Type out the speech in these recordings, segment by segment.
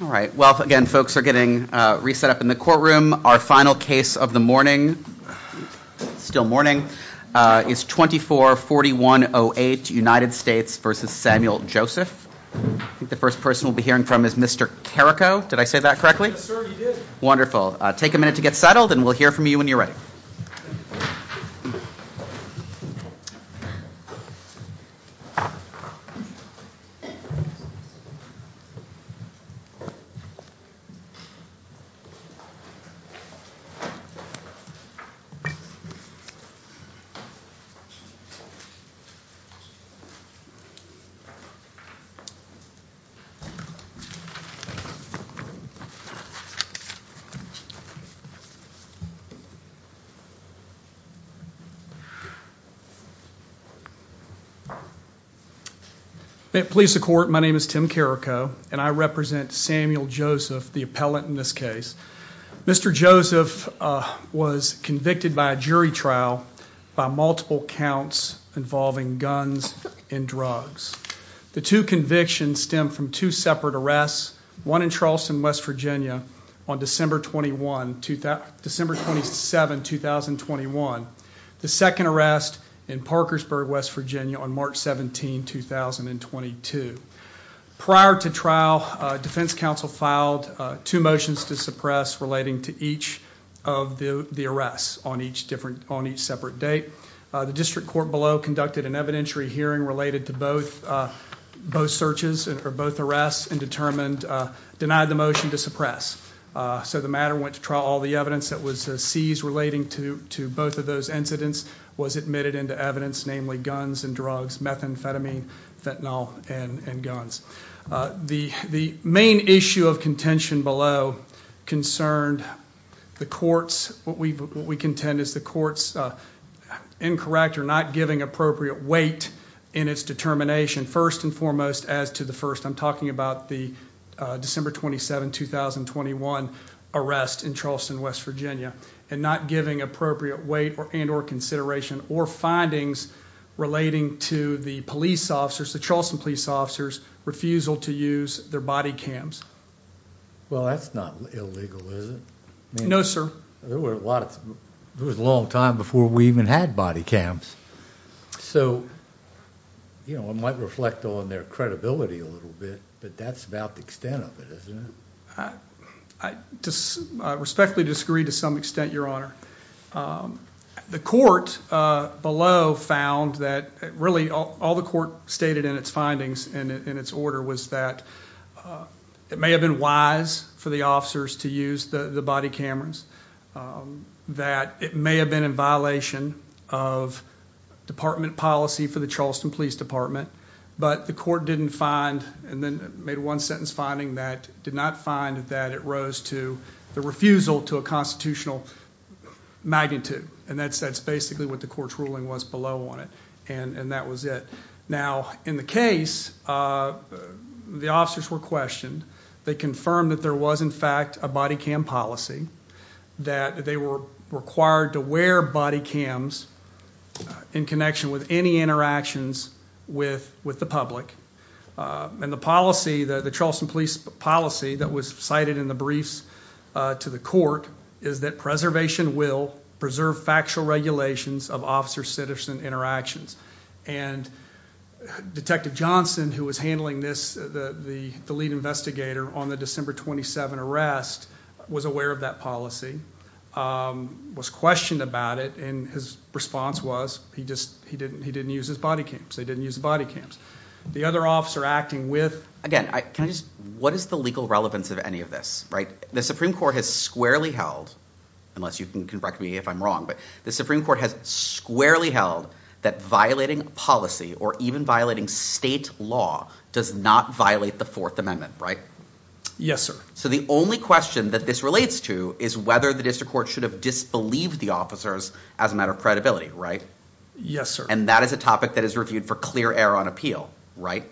All right. Well, again, folks are getting reset up in the courtroom. Our final case of the morning, still morning, is 24-4108 United States v. Samuel Joseph. I think the first person we'll be hearing from is Mr. Carrico. Did I say that correctly? Yes, sir, you did. Wonderful. Take a minute to get settled and we'll hear from you when you're ready. Please support. My name is Tim Carrico and I represent Samuel Joseph, the appellant in this case. Mr. Joseph was convicted by a jury trial by multiple counts involving guns and drugs. The two convictions stem from two separate arrests, one in Charleston, West Virginia, on December 27, 2021. The second arrest in Parkersburg, West Virginia, on March 17, 2022. Prior to trial, defense counsel filed two motions to suppress relating to each of the arrests on each separate date. The district court below conducted an evidentiary hearing related to both searches or both arrests and denied the motion to suppress. So the matter went to trial. All the evidence that was seized relating to both of those incidents was admitted into evidence, namely guns and drugs, methamphetamine, fentanyl, and guns. The main issue of contention below concerned the courts. What we contend is the courts incorrect or not giving appropriate weight in its determination. First and foremost, as to the first, I'm talking about the December 27, 2021 arrest in Charleston, West Virginia, and not giving appropriate weight and or consideration or findings relating to the police officers, the Charleston police officers' refusal to use their body cams. Well, that's not illegal, is it? No, sir. There was a long time before we even had body cams. So, you know, I might reflect on their credibility a little bit, but that's about the extent of it, isn't it? I respectfully disagree to some extent, Your Honor. The court below found that really all the court stated in its findings and in its order was that it may have been wise for the officers to use the body cameras, that it may have been in violation of department policy for the Charleston Police Department, but the court didn't find and then made one sentence finding that did not find that it rose to the refusal to a constitutional magnitude, and that's basically what the court's ruling was below on it, and that was it. Now, in the case, the officers were questioned. They confirmed that there was, in fact, a body cam policy, that they were required to wear body cams in connection with any interactions with the public, and the policy, the Charleston police policy that was cited in the briefs to the court, is that preservation will preserve factual regulations of officer-citizen interactions, and Detective Johnson, who was handling this, the lead investigator on the December 27 arrest, was aware of that policy, was questioned about it, and his response was he didn't use his body cams. They didn't use the body cams. The other officer acting with, again, can I just, what is the legal relevance of any of this, right? The Supreme Court has squarely held, unless you can correct me if I'm wrong, but the Supreme Court has squarely held that violating policy, or even violating state law, does not violate the Fourth Amendment, right? Yes, sir. So the only question that this relates to is whether the district court should have disbelieved the officers as a matter of credibility, right? Yes, sir. And that is a topic that is reviewed for clear error on appeal, right?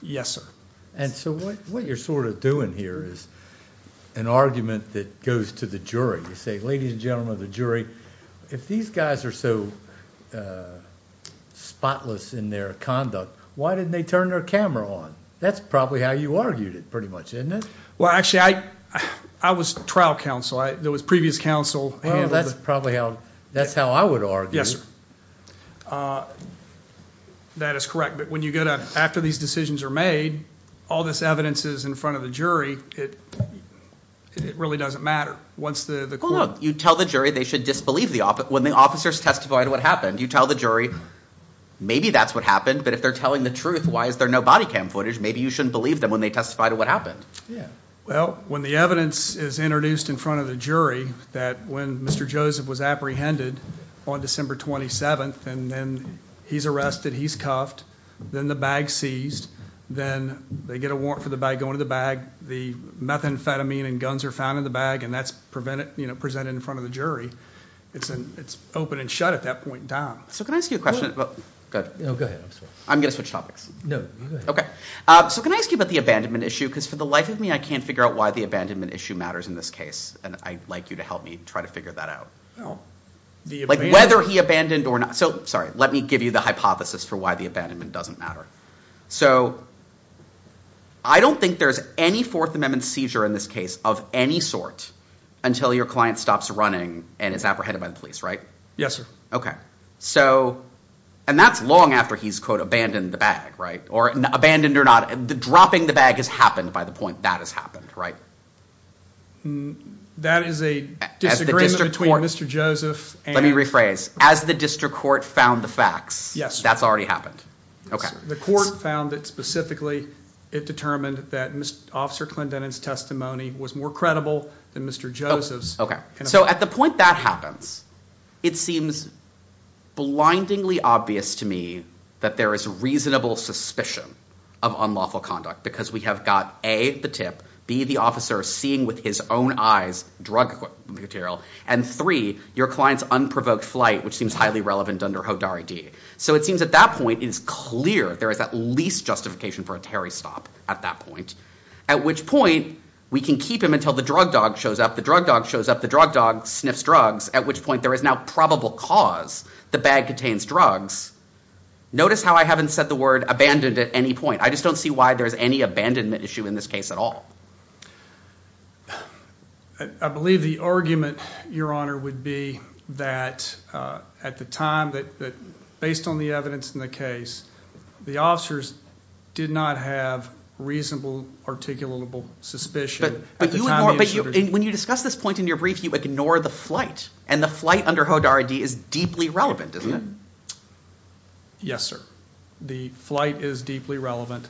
Yes, sir. And so what you're sort of doing here is an argument that goes to the jury. You say, ladies and gentlemen of the jury, if these guys are so spotless in their conduct, why didn't they turn their camera on? That's probably how you argued it, pretty much, isn't it? Well, actually, I was trial counsel. There was previous counsel. Well, that's probably how, that's how I would argue. Yes, sir. That is correct, but when you go to, after these decisions are made, all this evidence is in front of the jury, it really doesn't matter. Well, look, you tell the jury they should disbelieve when the officers testify to what happened. You tell the jury maybe that's what happened, but if they're telling the truth, why is there no body cam footage? Maybe you shouldn't believe them when they testify to what happened. Well, when the evidence is introduced in front of the jury that when Mr. Joseph was apprehended on December 27th and then he's arrested, he's cuffed, then the bag's seized, then they get a warrant for the bag, they go into the bag, the methamphetamine and guns are found in the bag, and that's presented in front of the jury, it's open and shut at that point in time. So can I ask you a question? Go ahead. I'm going to switch topics. No, you go ahead. Okay. So can I ask you about the abandonment issue? Because for the life of me, I can't figure out why the abandonment issue matters in this case, and I'd like you to help me try to figure that out. Like whether he abandoned or not. So, sorry, let me give you the hypothesis for why the abandonment doesn't matter. So I don't think there's any Fourth Amendment seizure in this case of any sort until your client stops running and is apprehended by the police, right? Yes, sir. Okay. So, and that's long after he's, quote, abandoned the bag, right? Or abandoned or not, the dropping the bag has happened by the point that has happened, right? That is a disagreement between Mr. Joseph and – Let me rephrase. As the district court found the facts, that's already happened. Okay. The court found that specifically it determined that Officer Clendenin's testimony was more credible than Mr. Joseph's. Okay. So at the point that happens, it seems blindingly obvious to me that there is reasonable suspicion of unlawful conduct because we have got A, the tip, B, the officer seeing with his own eyes drug material, and three, your client's unprovoked flight, which seems highly relevant under HODAR ID. So it seems at that point it is clear there is at least justification for a Terry stop at that point, at which point we can keep him until the drug dog shows up. The drug dog shows up. The drug dog sniffs drugs, at which point there is now probable cause the bag contains drugs. Notice how I haven't said the word abandoned at any point. I just don't see why there's any abandonment issue in this case at all. I believe the argument, Your Honor, would be that at the time, based on the evidence in the case, the officers did not have reasonable articulable suspicion. But when you discuss this point in your brief, you ignore the flight, and the flight under HODAR ID is deeply relevant, isn't it? Yes, sir. The flight is deeply relevant.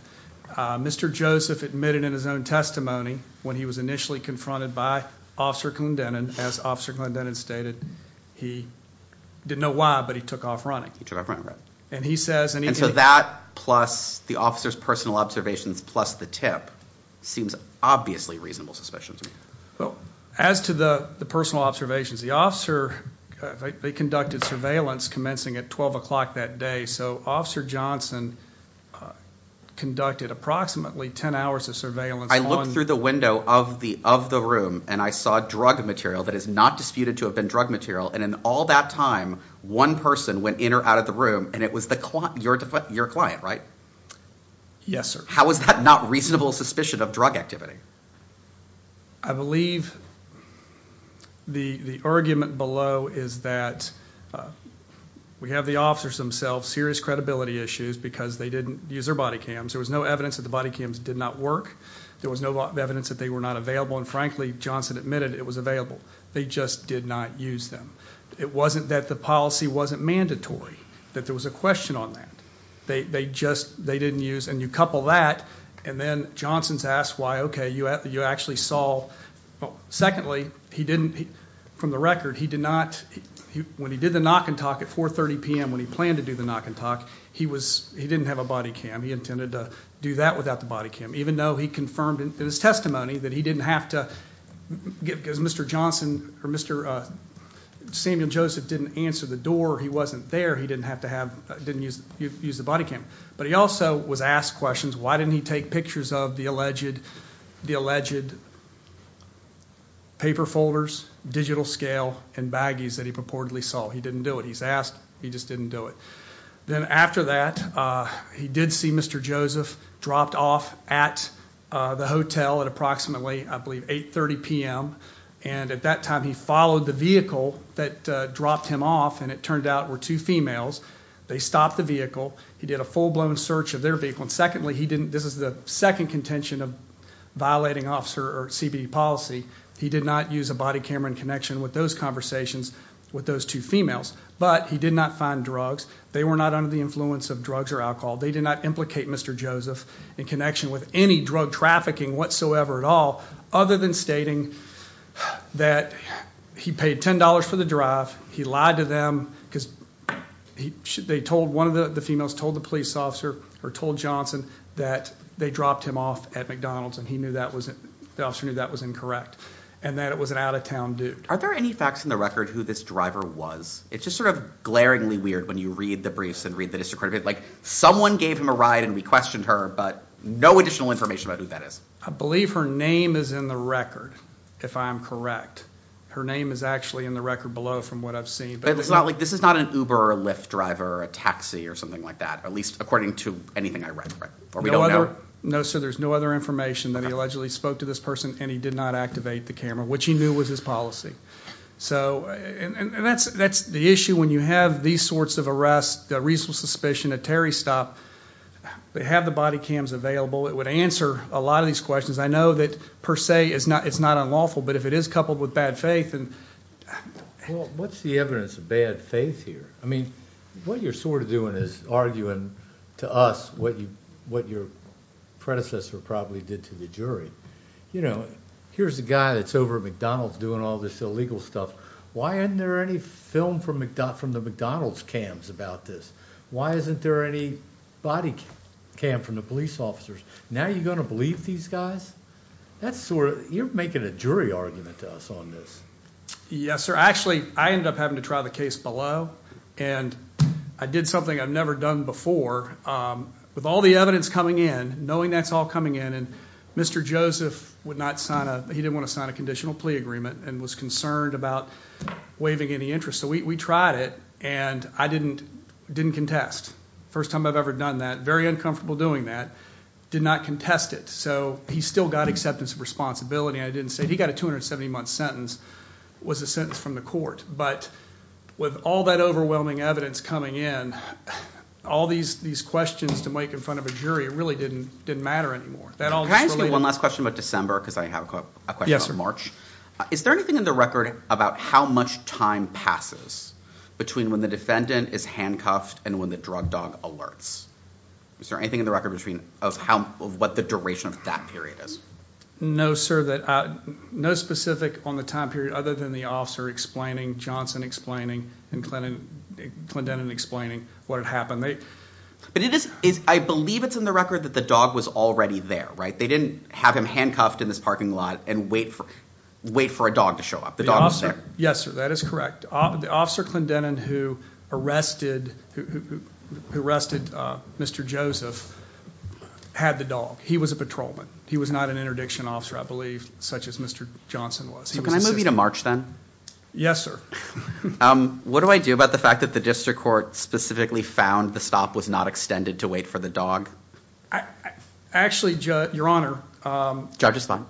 Mr. Joseph admitted in his own testimony when he was initially confronted by Officer Glendennan, as Officer Glendennan stated, he didn't know why, but he took off running. He took off running, right. And he says, and he- And so that plus the officer's personal observations plus the tip seems obviously reasonable suspicion to me. Well, as to the personal observations, the officer, they conducted surveillance commencing at 12 o'clock that day, so Officer Johnson conducted approximately 10 hours of surveillance on- I looked through the window of the room, and I saw drug material that is not disputed to have been drug material, and in all that time, one person went in or out of the room, and it was your client, right? Yes, sir. How is that not reasonable suspicion of drug activity? I believe the argument below is that we have the officers themselves, serious credibility issues because they didn't use their body cams. There was no evidence that the body cams did not work. There was no evidence that they were not available, and frankly, Johnson admitted it was available. They just did not use them. It wasn't that the policy wasn't mandatory, that there was a question on that. They didn't use, and you couple that, and then Johnson's asked why, okay, you actually saw. Secondly, he didn't, from the record, he did not, when he did the knock and talk at 4.30 p.m., when he planned to do the knock and talk, he didn't have a body cam. He intended to do that without the body cam, even though he confirmed in his testimony that he didn't have to, because Mr. Johnson or Mr. Samuel Joseph didn't answer the door, he wasn't there, he didn't have to have, didn't use the body cam, but he also was asked questions. Why didn't he take pictures of the alleged paper folders, digital scale, and baggies that he purportedly saw? He didn't do it. He's asked, he just didn't do it. Then after that, he did see Mr. Joseph dropped off at the hotel at approximately, I believe, 8.30 p.m., and at that time, he followed the vehicle that dropped him off, and it turned out were two females. They stopped the vehicle. He did a full-blown search of their vehicle, and secondly, he didn't, this is the second contention of violating officer or CBD policy, he did not use a body camera in connection with those conversations with those two females, but he did not find drugs. They were not under the influence of drugs or alcohol. They did not implicate Mr. Joseph in connection with any drug trafficking whatsoever at all, other than stating that he paid $10 for the drive, he lied to them, because they told one of the females, told the police officer, or told Johnson, that they dropped him off at McDonald's, and the officer knew that was incorrect, and that it was an out-of-town dude. Are there any facts in the record who this driver was? It's just sort of glaringly weird when you read the briefs and read the district record, like someone gave him a ride and we questioned her, but no additional information about who that is. I believe her name is in the record, if I'm correct. Her name is actually in the record below from what I've seen. This is not an Uber or Lyft driver or a taxi or something like that, at least according to anything I read, right? No, sir, there's no other information that he allegedly spoke to this person and he did not activate the camera, which he knew was his policy. And that's the issue when you have these sorts of arrests, a reasonable suspicion, a Terry stop, they have the body cams available, it would answer a lot of these questions. I know that per se it's not unlawful, but if it is coupled with bad faith and— Well, what's the evidence of bad faith here? I mean, what you're sort of doing is arguing to us what your predecessor probably did to the jury. You know, here's a guy that's over at McDonald's doing all this illegal stuff. Why isn't there any film from the McDonald's cams about this? Why isn't there any body cam from the police officers? Now you're going to believe these guys? That's sort of—you're making a jury argument to us on this. Yes, sir. Actually, I ended up having to try the case below, and I did something I've never done before. With all the evidence coming in, knowing that's all coming in, and Mr. Joseph would not sign a—he didn't want to sign a conditional plea agreement and was concerned about waiving any interest. So we tried it, and I didn't contest. First time I've ever done that. Very uncomfortable doing that. Did not contest it, so he still got acceptance of responsibility. I didn't say—he got a 270-month sentence. It was a sentence from the court. But with all that overwhelming evidence coming in, all these questions to make in front of a jury really didn't matter anymore. Can I ask you one last question about December because I have a question about March? Yes, sir. Is there anything in the record about how much time passes between when the defendant is handcuffed and when the drug dog alerts? Is there anything in the record of what the duration of that period is? No, sir. No specific on the time period other than the officer explaining, Johnson explaining, and Clendenin explaining what had happened. But it is—I believe it's in the record that the dog was already there, right? They didn't have him handcuffed in this parking lot and wait for a dog to show up. Yes, sir. That is correct. The officer Clendenin who arrested Mr. Joseph had the dog. He was a patrolman. He was not an interdiction officer, I believe, such as Mr. Johnson was. Can I move you to March then? Yes, sir. What do I do about the fact that the district court specifically found the stop was not extended to wait for the dog? Actually, Your Honor— Judge, it's fine.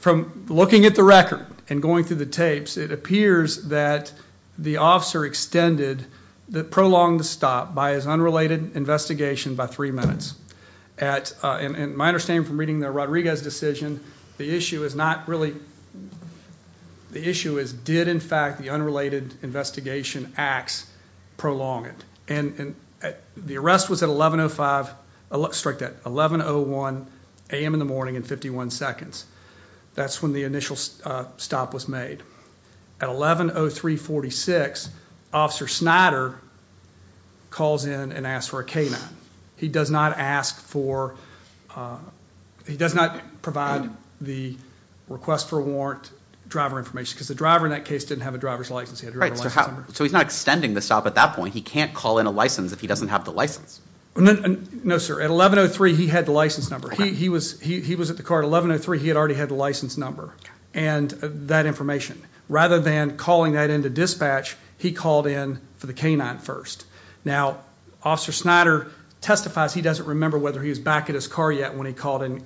From looking at the record and going through the tapes, it appears that the officer extended, prolonged the stop by his unrelated investigation by three minutes. And my understanding from reading the Rodriguez decision, the issue is not really—the issue is did, in fact, the unrelated investigation acts prolong it? The arrest was at 11.05—strike that— 11.01 a.m. in the morning and 51 seconds. That's when the initial stop was made. At 11.03.46, Officer Snyder calls in and asks for a K-9. He does not ask for—he does not provide the request for a warrant driver information because the driver in that case didn't have a driver's license. So he's not extending the stop at that point. He can't call in a license if he doesn't have the license. No, sir. At 11.03, he had the license number. He was at the car at 11.03. He had already had the license number and that information. Rather than calling that in to dispatch, he called in for the K-9 first. Now, Officer Snyder testifies he doesn't remember whether he was back at his car yet when he called in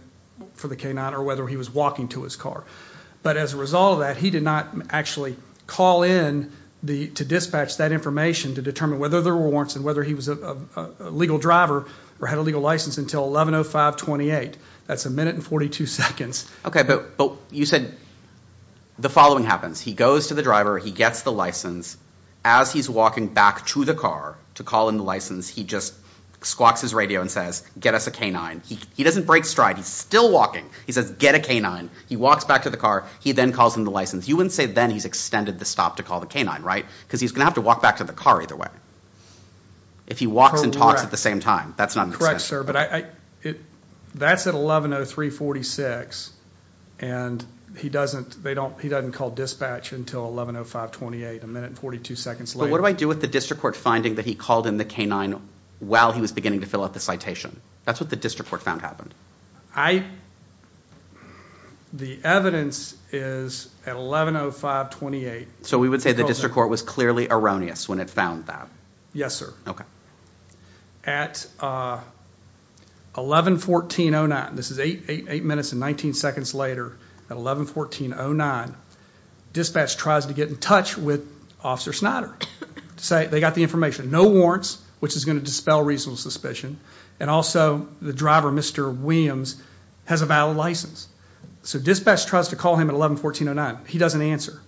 for the K-9 or whether he was walking to his car. But as a result of that, he did not actually call in to dispatch that information to determine whether there were warrants and whether he was a legal driver or had a legal license until 11.05.28. That's a minute and 42 seconds. Okay, but you said the following happens. He goes to the driver. He gets the license. As he's walking back to the car to call in the license, he just squawks his radio and says, get us a K-9. He doesn't break stride. He's still walking. He says, get a K-9. He walks back to the car. He then calls in the license. You wouldn't say then he's extended the stop to call the K-9, right? Because he's going to have to walk back to the car either way. If he walks and talks at the same time, that's not the same. Correct, sir, but that's at 11.03.46, and he doesn't call dispatch until 11.05.28, a minute and 42 seconds later. But what do I do with the district court finding that he called in the K-9 while he was beginning to fill out the citation? That's what the district court found happened. The evidence is at 11.05.28. So we would say the district court was clearly erroneous when it found that? Yes, sir. Okay. At 11.14.09, this is eight minutes and 19 seconds later, at 11.14.09, dispatch tries to get in touch with Officer Snyder to say they got the information. No warrants, which is going to dispel reasonable suspicion, and also the driver, Mr. Williams, has a valid license. So dispatch tries to call him at 11.14.09. He doesn't answer.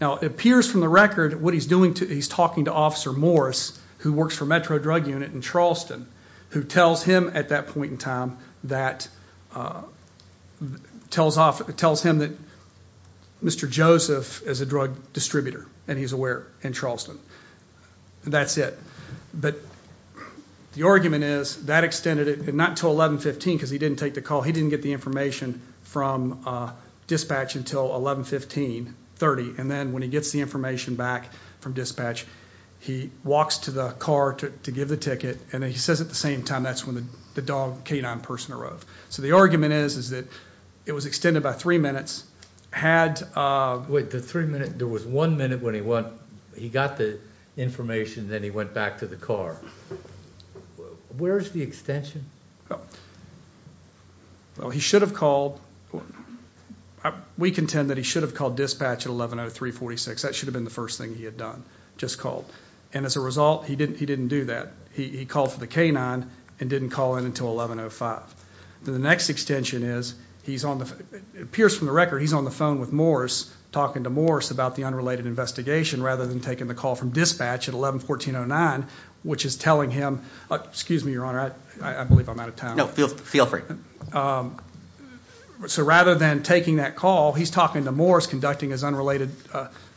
Now, it appears from the record what he's doing, he's talking to Officer Morris who works for Metro Drug Unit in Charleston who tells him at that point in time that Mr. Joseph is a drug distributor and he's aware in Charleston. That's it. But the argument is that extended it not until 11.15 because he didn't take the call. He didn't get the information from dispatch until 11.15.30, and then when he gets the information back from dispatch, he walks to the car to give the ticket, and then he says at the same time that's when the dog canine person arrived. So the argument is that it was extended by three minutes. Wait, the three minutes? There was one minute when he got the information and then he went back to the car. Where is the extension? Well, he should have called. We contend that he should have called dispatch at 11.03.46. That should have been the first thing he had done, just called. And as a result, he didn't do that. He called for the canine and didn't call in until 11.05. The next extension is, it appears from the record, he's on the phone with Morris talking to Morris about the unrelated investigation rather than taking the call from dispatch at 11.14.09, which is telling him, excuse me, Your Honor, I believe I'm out of time. No, feel free. So rather than taking that call, he's talking to Morris conducting his unrelated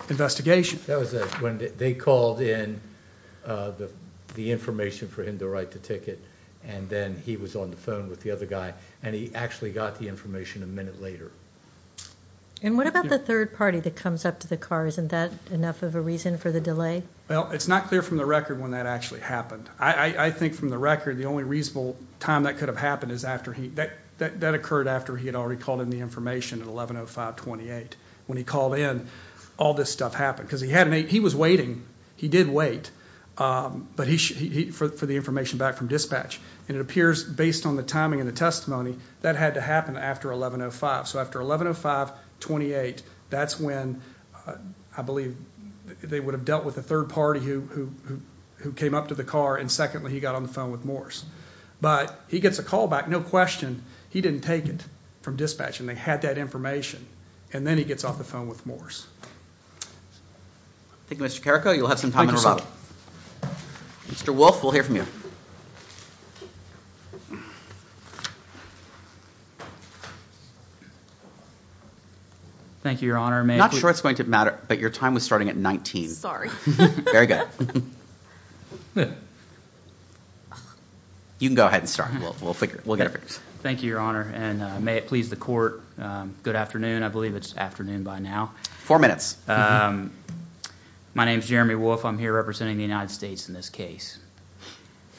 investigation. That was when they called in the information for him to write the ticket, and then he was on the phone with the other guy, and he actually got the information a minute later. And what about the third party that comes up to the car? Isn't that enough of a reason for the delay? Well, it's not clear from the record when that actually happened. I think from the record the only reasonable time that could have happened is after he – that occurred after he had already called in the information at 11.05.28. When he called in, all this stuff happened because he was waiting. He did wait for the information back from dispatch. And it appears, based on the timing and the testimony, that had to happen after 11.05. So after 11.05.28, that's when, I believe, they would have dealt with the third party who came up to the car, and secondly, he got on the phone with Morris. But he gets a call back, no question, he didn't take it from dispatch, and they had that information. And then he gets off the phone with Morris. Thank you, Mr. Carrico. You'll have some time in rebuttal. Mr. Wolfe, we'll hear from you. Thank you, Your Honor. I'm not sure it's going to matter, but your time was starting at 19. Very good. You can go ahead and start. We'll get it fixed. Thank you, Your Honor. And may it please the court, good afternoon. I believe it's afternoon by now. Four minutes. My name's Jeremy Wolfe. I'm here representing the United States in this case.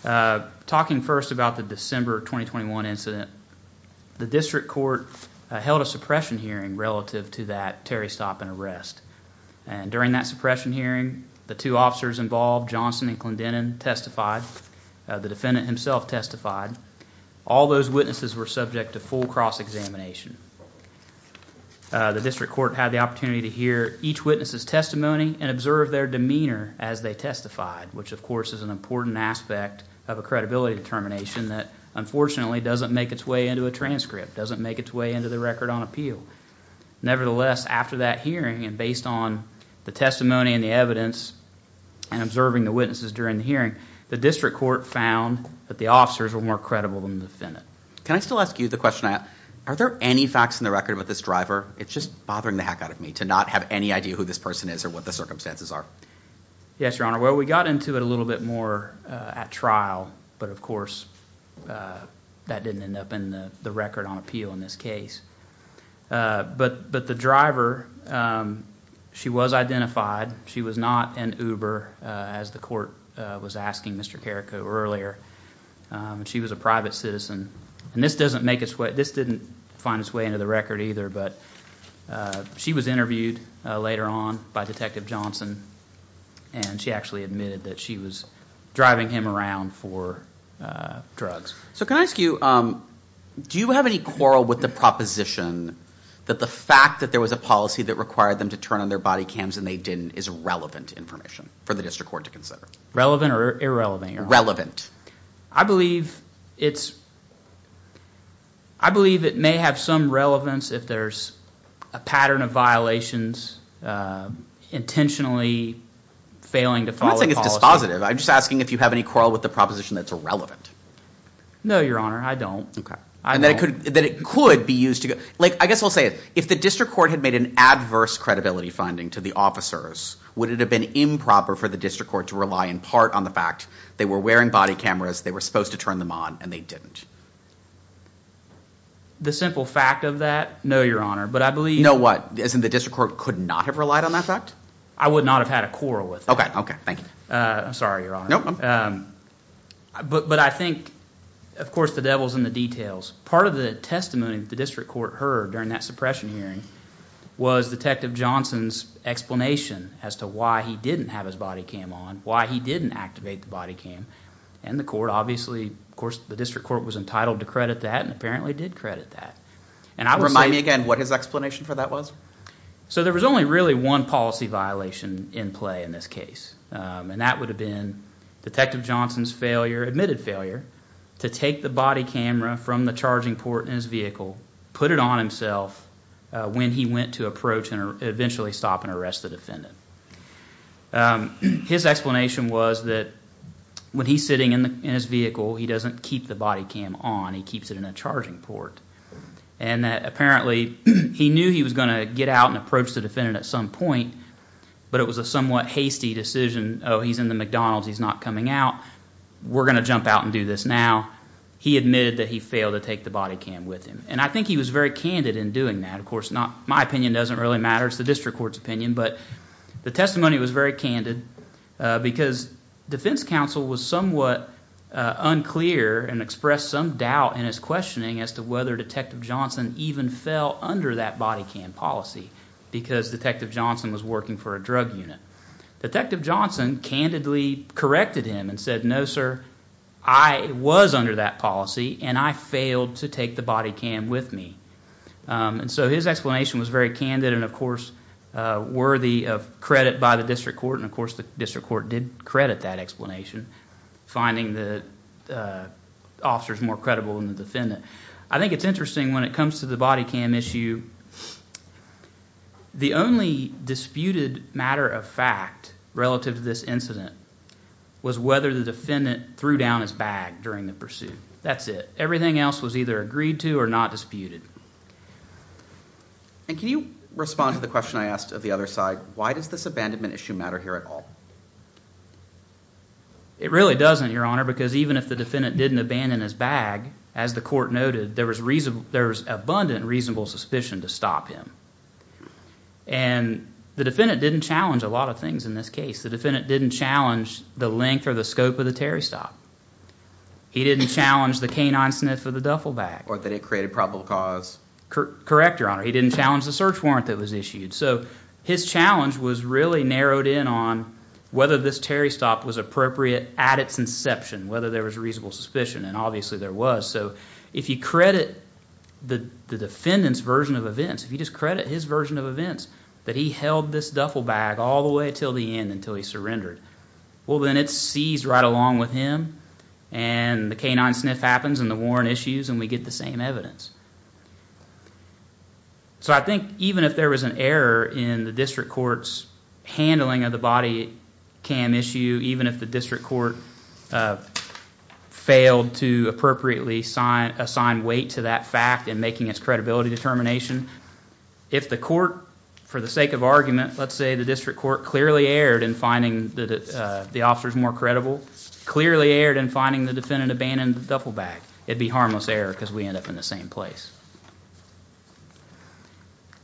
Talking first about the December 2021 incident, the district court held a suppression hearing relative to that Terry stop and arrest. And during that suppression hearing, the two officers involved, Johnson and Clendenin, testified. The defendant himself testified. All those witnesses were subject to full cross-examination. The district court had the opportunity to hear each witness' testimony and observe their demeanor as they testified, which, of course, is an important aspect of a credibility determination that, unfortunately, doesn't make its way into a transcript, doesn't make its way into the record on appeal. Nevertheless, after that hearing, and based on the testimony and the evidence and observing the witnesses during the hearing, the district court found that the officers were more credible than the defendant. Can I still ask you the question? Are there any facts in the record about this driver? It's just bothering the heck out of me to not have any idea who this person is or what the circumstances are. Yes, Your Honor. Well, we got into it a little bit more at trial, but, of course, that didn't end up in the record on appeal in this case. But the driver, she was identified. She was not an Uber, as the court was asking Mr. Carrico earlier. She was a private citizen. And this didn't find its way into the record either, but she was interviewed later on by Detective Johnson, and she actually admitted that she was driving him around for drugs. So can I ask you, do you have any quarrel with the proposition that the fact that there was a policy that required them to turn on their body cams and they didn't is relevant information for the district court to consider? Relevant or irrelevant, Your Honor? I believe it may have some relevance if there's a pattern of violations intentionally failing to follow the policy. I'm not saying it's dispositive. I'm just asking if you have any quarrel with the proposition that it's irrelevant. No, Your Honor, I don't. And that it could be used to, like, I guess I'll say it. If the district court had made an adverse credibility finding to the officers, would it have been improper for the district court to rely in part on the fact they were wearing body cameras, they were supposed to turn them on, and they didn't? The simple fact of that, no, Your Honor. No, what? As in the district court could not have relied on that fact? I would not have had a quarrel with that. Okay, okay. Thank you. I'm sorry, Your Honor. No problem. But I think, of course, the devil's in the details. Part of the testimony the district court heard during that suppression hearing was Detective Johnson's explanation as to why he didn't have his body cam on, why he didn't activate the body cam, and the court obviously, of course, the district court was entitled to credit that and apparently did credit that. Remind me again what his explanation for that was? So there was only really one policy violation in play in this case, and that would have been Detective Johnson's failure, admitted failure, to take the body camera from the charging port in his vehicle, put it on himself when he went to approach and eventually stop and arrest the defendant. His explanation was that when he's sitting in his vehicle, he doesn't keep the body cam on. He keeps it in a charging port, and that apparently he knew he was going to get out and approach the defendant at some point, but it was a somewhat hasty decision. Oh, he's in the McDonald's. He's not coming out. We're going to jump out and do this now. He admitted that he failed to take the body cam with him, and I think he was very candid in doing that. Of course, my opinion doesn't really matter. It's the district court's opinion, but the testimony was very candid because defense counsel was somewhat unclear and expressed some doubt in his questioning as to whether Detective Johnson even fell under that body cam policy because Detective Johnson was working for a drug unit. Detective Johnson candidly corrected him and said, no, sir, I was under that policy, and I failed to take the body cam with me. And so his explanation was very candid and, of course, worthy of credit by the district court, and, of course, the district court did credit that explanation, finding the officers more credible than the defendant. I think it's interesting when it comes to the body cam issue. The only disputed matter of fact relative to this incident was whether the defendant threw down his bag during the pursuit. That's it. Everything else was either agreed to or not disputed. And can you respond to the question I asked of the other side? Why does this abandonment issue matter here at all? It really doesn't, Your Honor, because even if the defendant didn't abandon his bag, as the court noted, there was abundant reasonable suspicion to stop him, and the defendant didn't challenge a lot of things in this case. The defendant didn't challenge the length or the scope of the Terry stop. He didn't challenge the canine sniff of the duffel bag. Or that it created probable cause. Correct, Your Honor. He didn't challenge the search warrant that was issued. So his challenge was really narrowed in on whether this Terry stop was appropriate at its inception, whether there was reasonable suspicion, and obviously there was. So if you credit the defendant's version of events, if you just credit his version of events, that he held this duffel bag all the way until the end, until he surrendered, well, then it's seized right along with him, and the canine sniff happens, and the warrant issues, and we get the same evidence. So I think even if there was an error in the district court's handling of the body cam issue, even if the district court failed to appropriately assign weight to that fact in making its credibility determination, if the court, for the sake of argument, let's say the district court clearly erred in finding the officers more credible, clearly erred in finding the defendant abandoned the duffel bag, it'd be harmless error because we end up in the same place.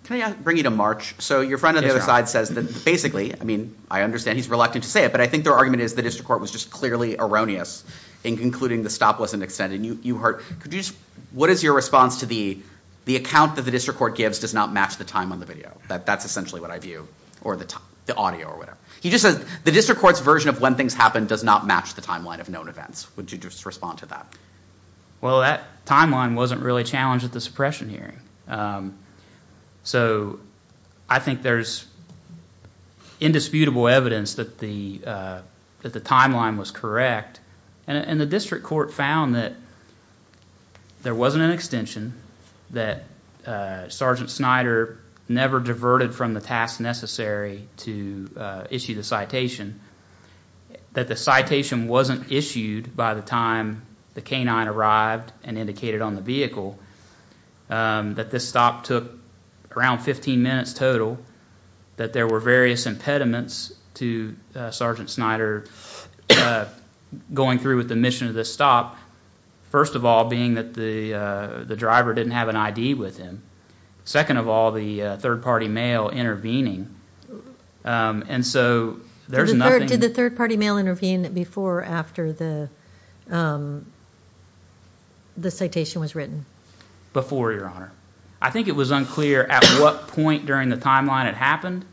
Can I bring you to March? So your friend on the other side says that basically, I mean, I understand he's reluctant to say it, but I think their argument is the district court was just clearly erroneous in concluding the stop wasn't extended. What is your response to the account that the district court gives does not match the time on the video? That's essentially what I view, or the audio or whatever. He just says the district court's version of when things happen does not match the timeline of known events. Would you just respond to that? Well, that timeline wasn't really challenged at the suppression hearing. So I think there's indisputable evidence that the timeline was correct, and the district court found that there wasn't an extension, that Sergeant Snyder never diverted from the task necessary to issue the citation, that the citation wasn't issued by the time the canine arrived and indicated on the vehicle, that this stop took around 15 minutes total, that there were various impediments to Sergeant Snyder going through with the mission of this stop, first of all being that the driver didn't have an ID with him, second of all, the third-party mail intervening, and so there's nothing. Did the third-party mail intervene before or after the citation was written? Before, Your Honor. I think it was unclear at what point during the timeline it happened,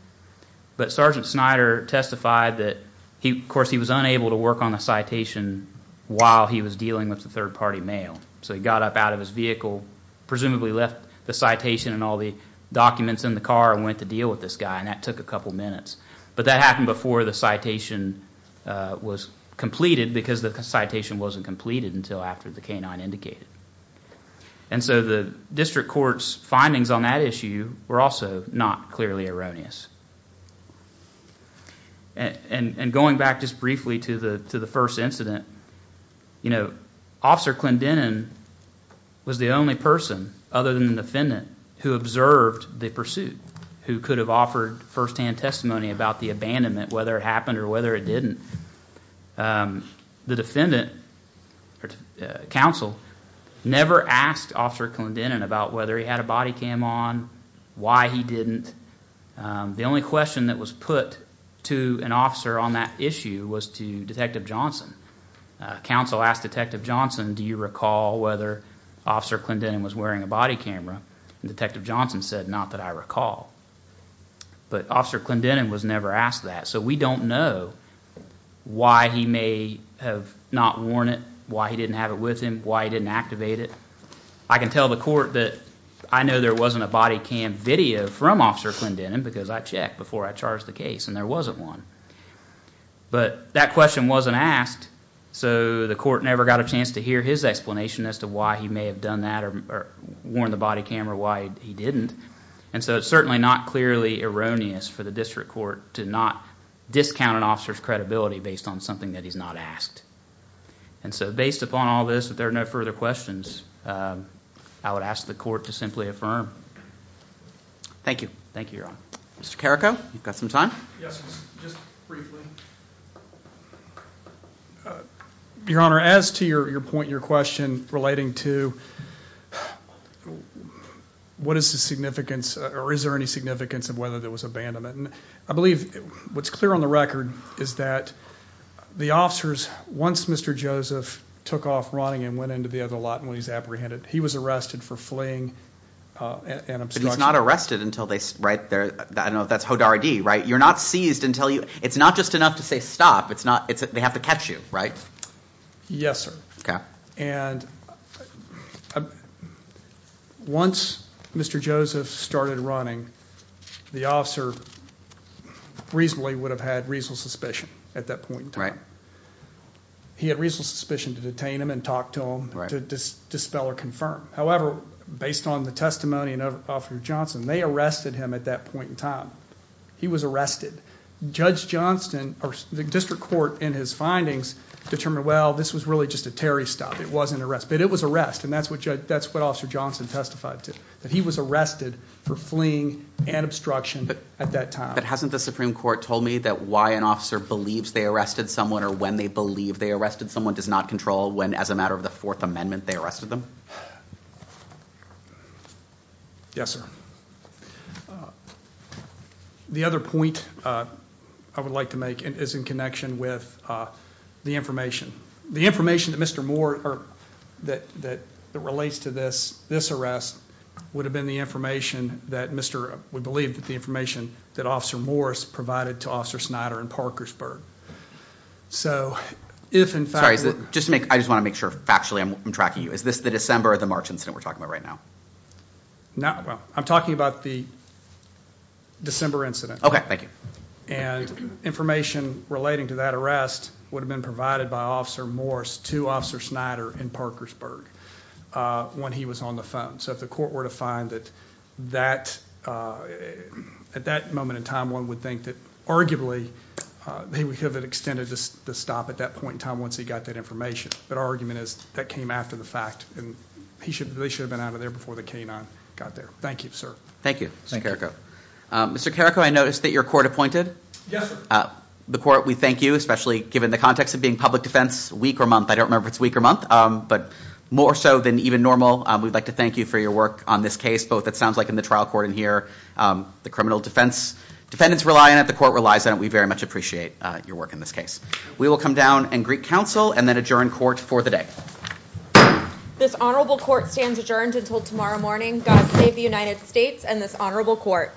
but Sergeant Snyder testified that, of course, he was unable to work on the citation while he was dealing with the third-party mail. So he got up out of his vehicle, presumably left the citation and all the documents in the car and went to deal with this guy, and that took a couple minutes. But that happened before the citation was completed because the citation wasn't completed until after the canine indicated. And so the district court's findings on that issue were also not clearly erroneous. And going back just briefly to the first incident, Officer Clendenin was the only person other than the defendant who observed the pursuit, who could have offered firsthand testimony about the abandonment, whether it happened or whether it didn't. The defendant, counsel, never asked Officer Clendenin about whether he had a body cam on, why he didn't. The only question that was put to an officer on that issue was to Detective Johnson. Counsel asked Detective Johnson, do you recall whether Officer Clendenin was wearing a body camera? And Detective Johnson said, not that I recall. But Officer Clendenin was never asked that, so we don't know why he may have not worn it, why he didn't have it with him, why he didn't activate it. I can tell the court that I know there wasn't a body cam video from Officer Clendenin because I checked before I charged the case and there wasn't one. But that question wasn't asked, so the court never got a chance to hear his explanation as to why he may have done that or worn the body cam or why he didn't. And so it's certainly not clearly erroneous for the district court to not discount an officer's credibility based on something that he's not asked. And so based upon all this, if there are no further questions, I would ask the court to simply affirm. Thank you. Thank you, Your Honor. Mr. Carrico, you've got some time? Yes, just briefly. Your Honor, as to your point, your question relating to what is the significance or is there any significance of whether there was abandonment, I believe what's clear on the record is that the officers, once Mr. Joseph took off running and went into the other lot when he was apprehended, he was arrested for fleeing an obstruction. But he's not arrested until they, right, I don't know if that's HODAR ID, right? You're not seized until you, it's not just enough to say stop, it's not, they have to catch you, right? Yes, sir. Okay. And once Mr. Joseph started running, the officer reasonably would have had reasonable suspicion at that point in time. He had reasonable suspicion to detain him and talk to him to dispel or confirm. However, based on the testimony of Officer Johnson, they arrested him at that point in time. He was arrested. Judge Johnston or the district court in his findings determined, well, this was really just a Terry stop, it wasn't arrest. But it was arrest and that's what Officer Johnson testified to, that he was arrested for fleeing an obstruction at that time. But hasn't the Supreme Court told me that why an officer believes they arrested someone or when they believe they arrested someone does not control when as a matter of the Fourth Amendment they arrested them? Yes, sir. The other point I would like to make is in connection with the information. The information that Mr. Moore, that relates to this arrest, would have been the information that Mr., we believe that the information that Officer Morris provided to Officer Snyder in Parkersburg. So if in fact... Sorry, I just want to make sure factually I'm tracking you. Is this the December or the March incident we're talking about right now? I'm talking about the December incident. Okay, thank you. And information relating to that arrest would have been provided by Officer Morris to Officer Snyder in Parkersburg when he was on the phone. So if the court were to find that at that moment in time one would think that arguably they would have extended the stop at that point in time once he got that information. But our argument is that came after the fact and they should have been out of there before the K-9 got there. Thank you, sir. Thank you, Mr. Carrico. Mr. Carrico, I noticed that you're court appointed. Yes, sir. The court, we thank you, especially given the context of being public defense week or month. I don't remember if it's week or month, but more so than even normal. We'd like to thank you for your work on this case, both it sounds like in the trial court in here, the criminal defense defendants rely on it, the court relies on it. We very much appreciate your work in this case. We will come down and greet counsel and then adjourn court for the day. This honorable court stands adjourned until tomorrow morning. God save the United States and this honorable court.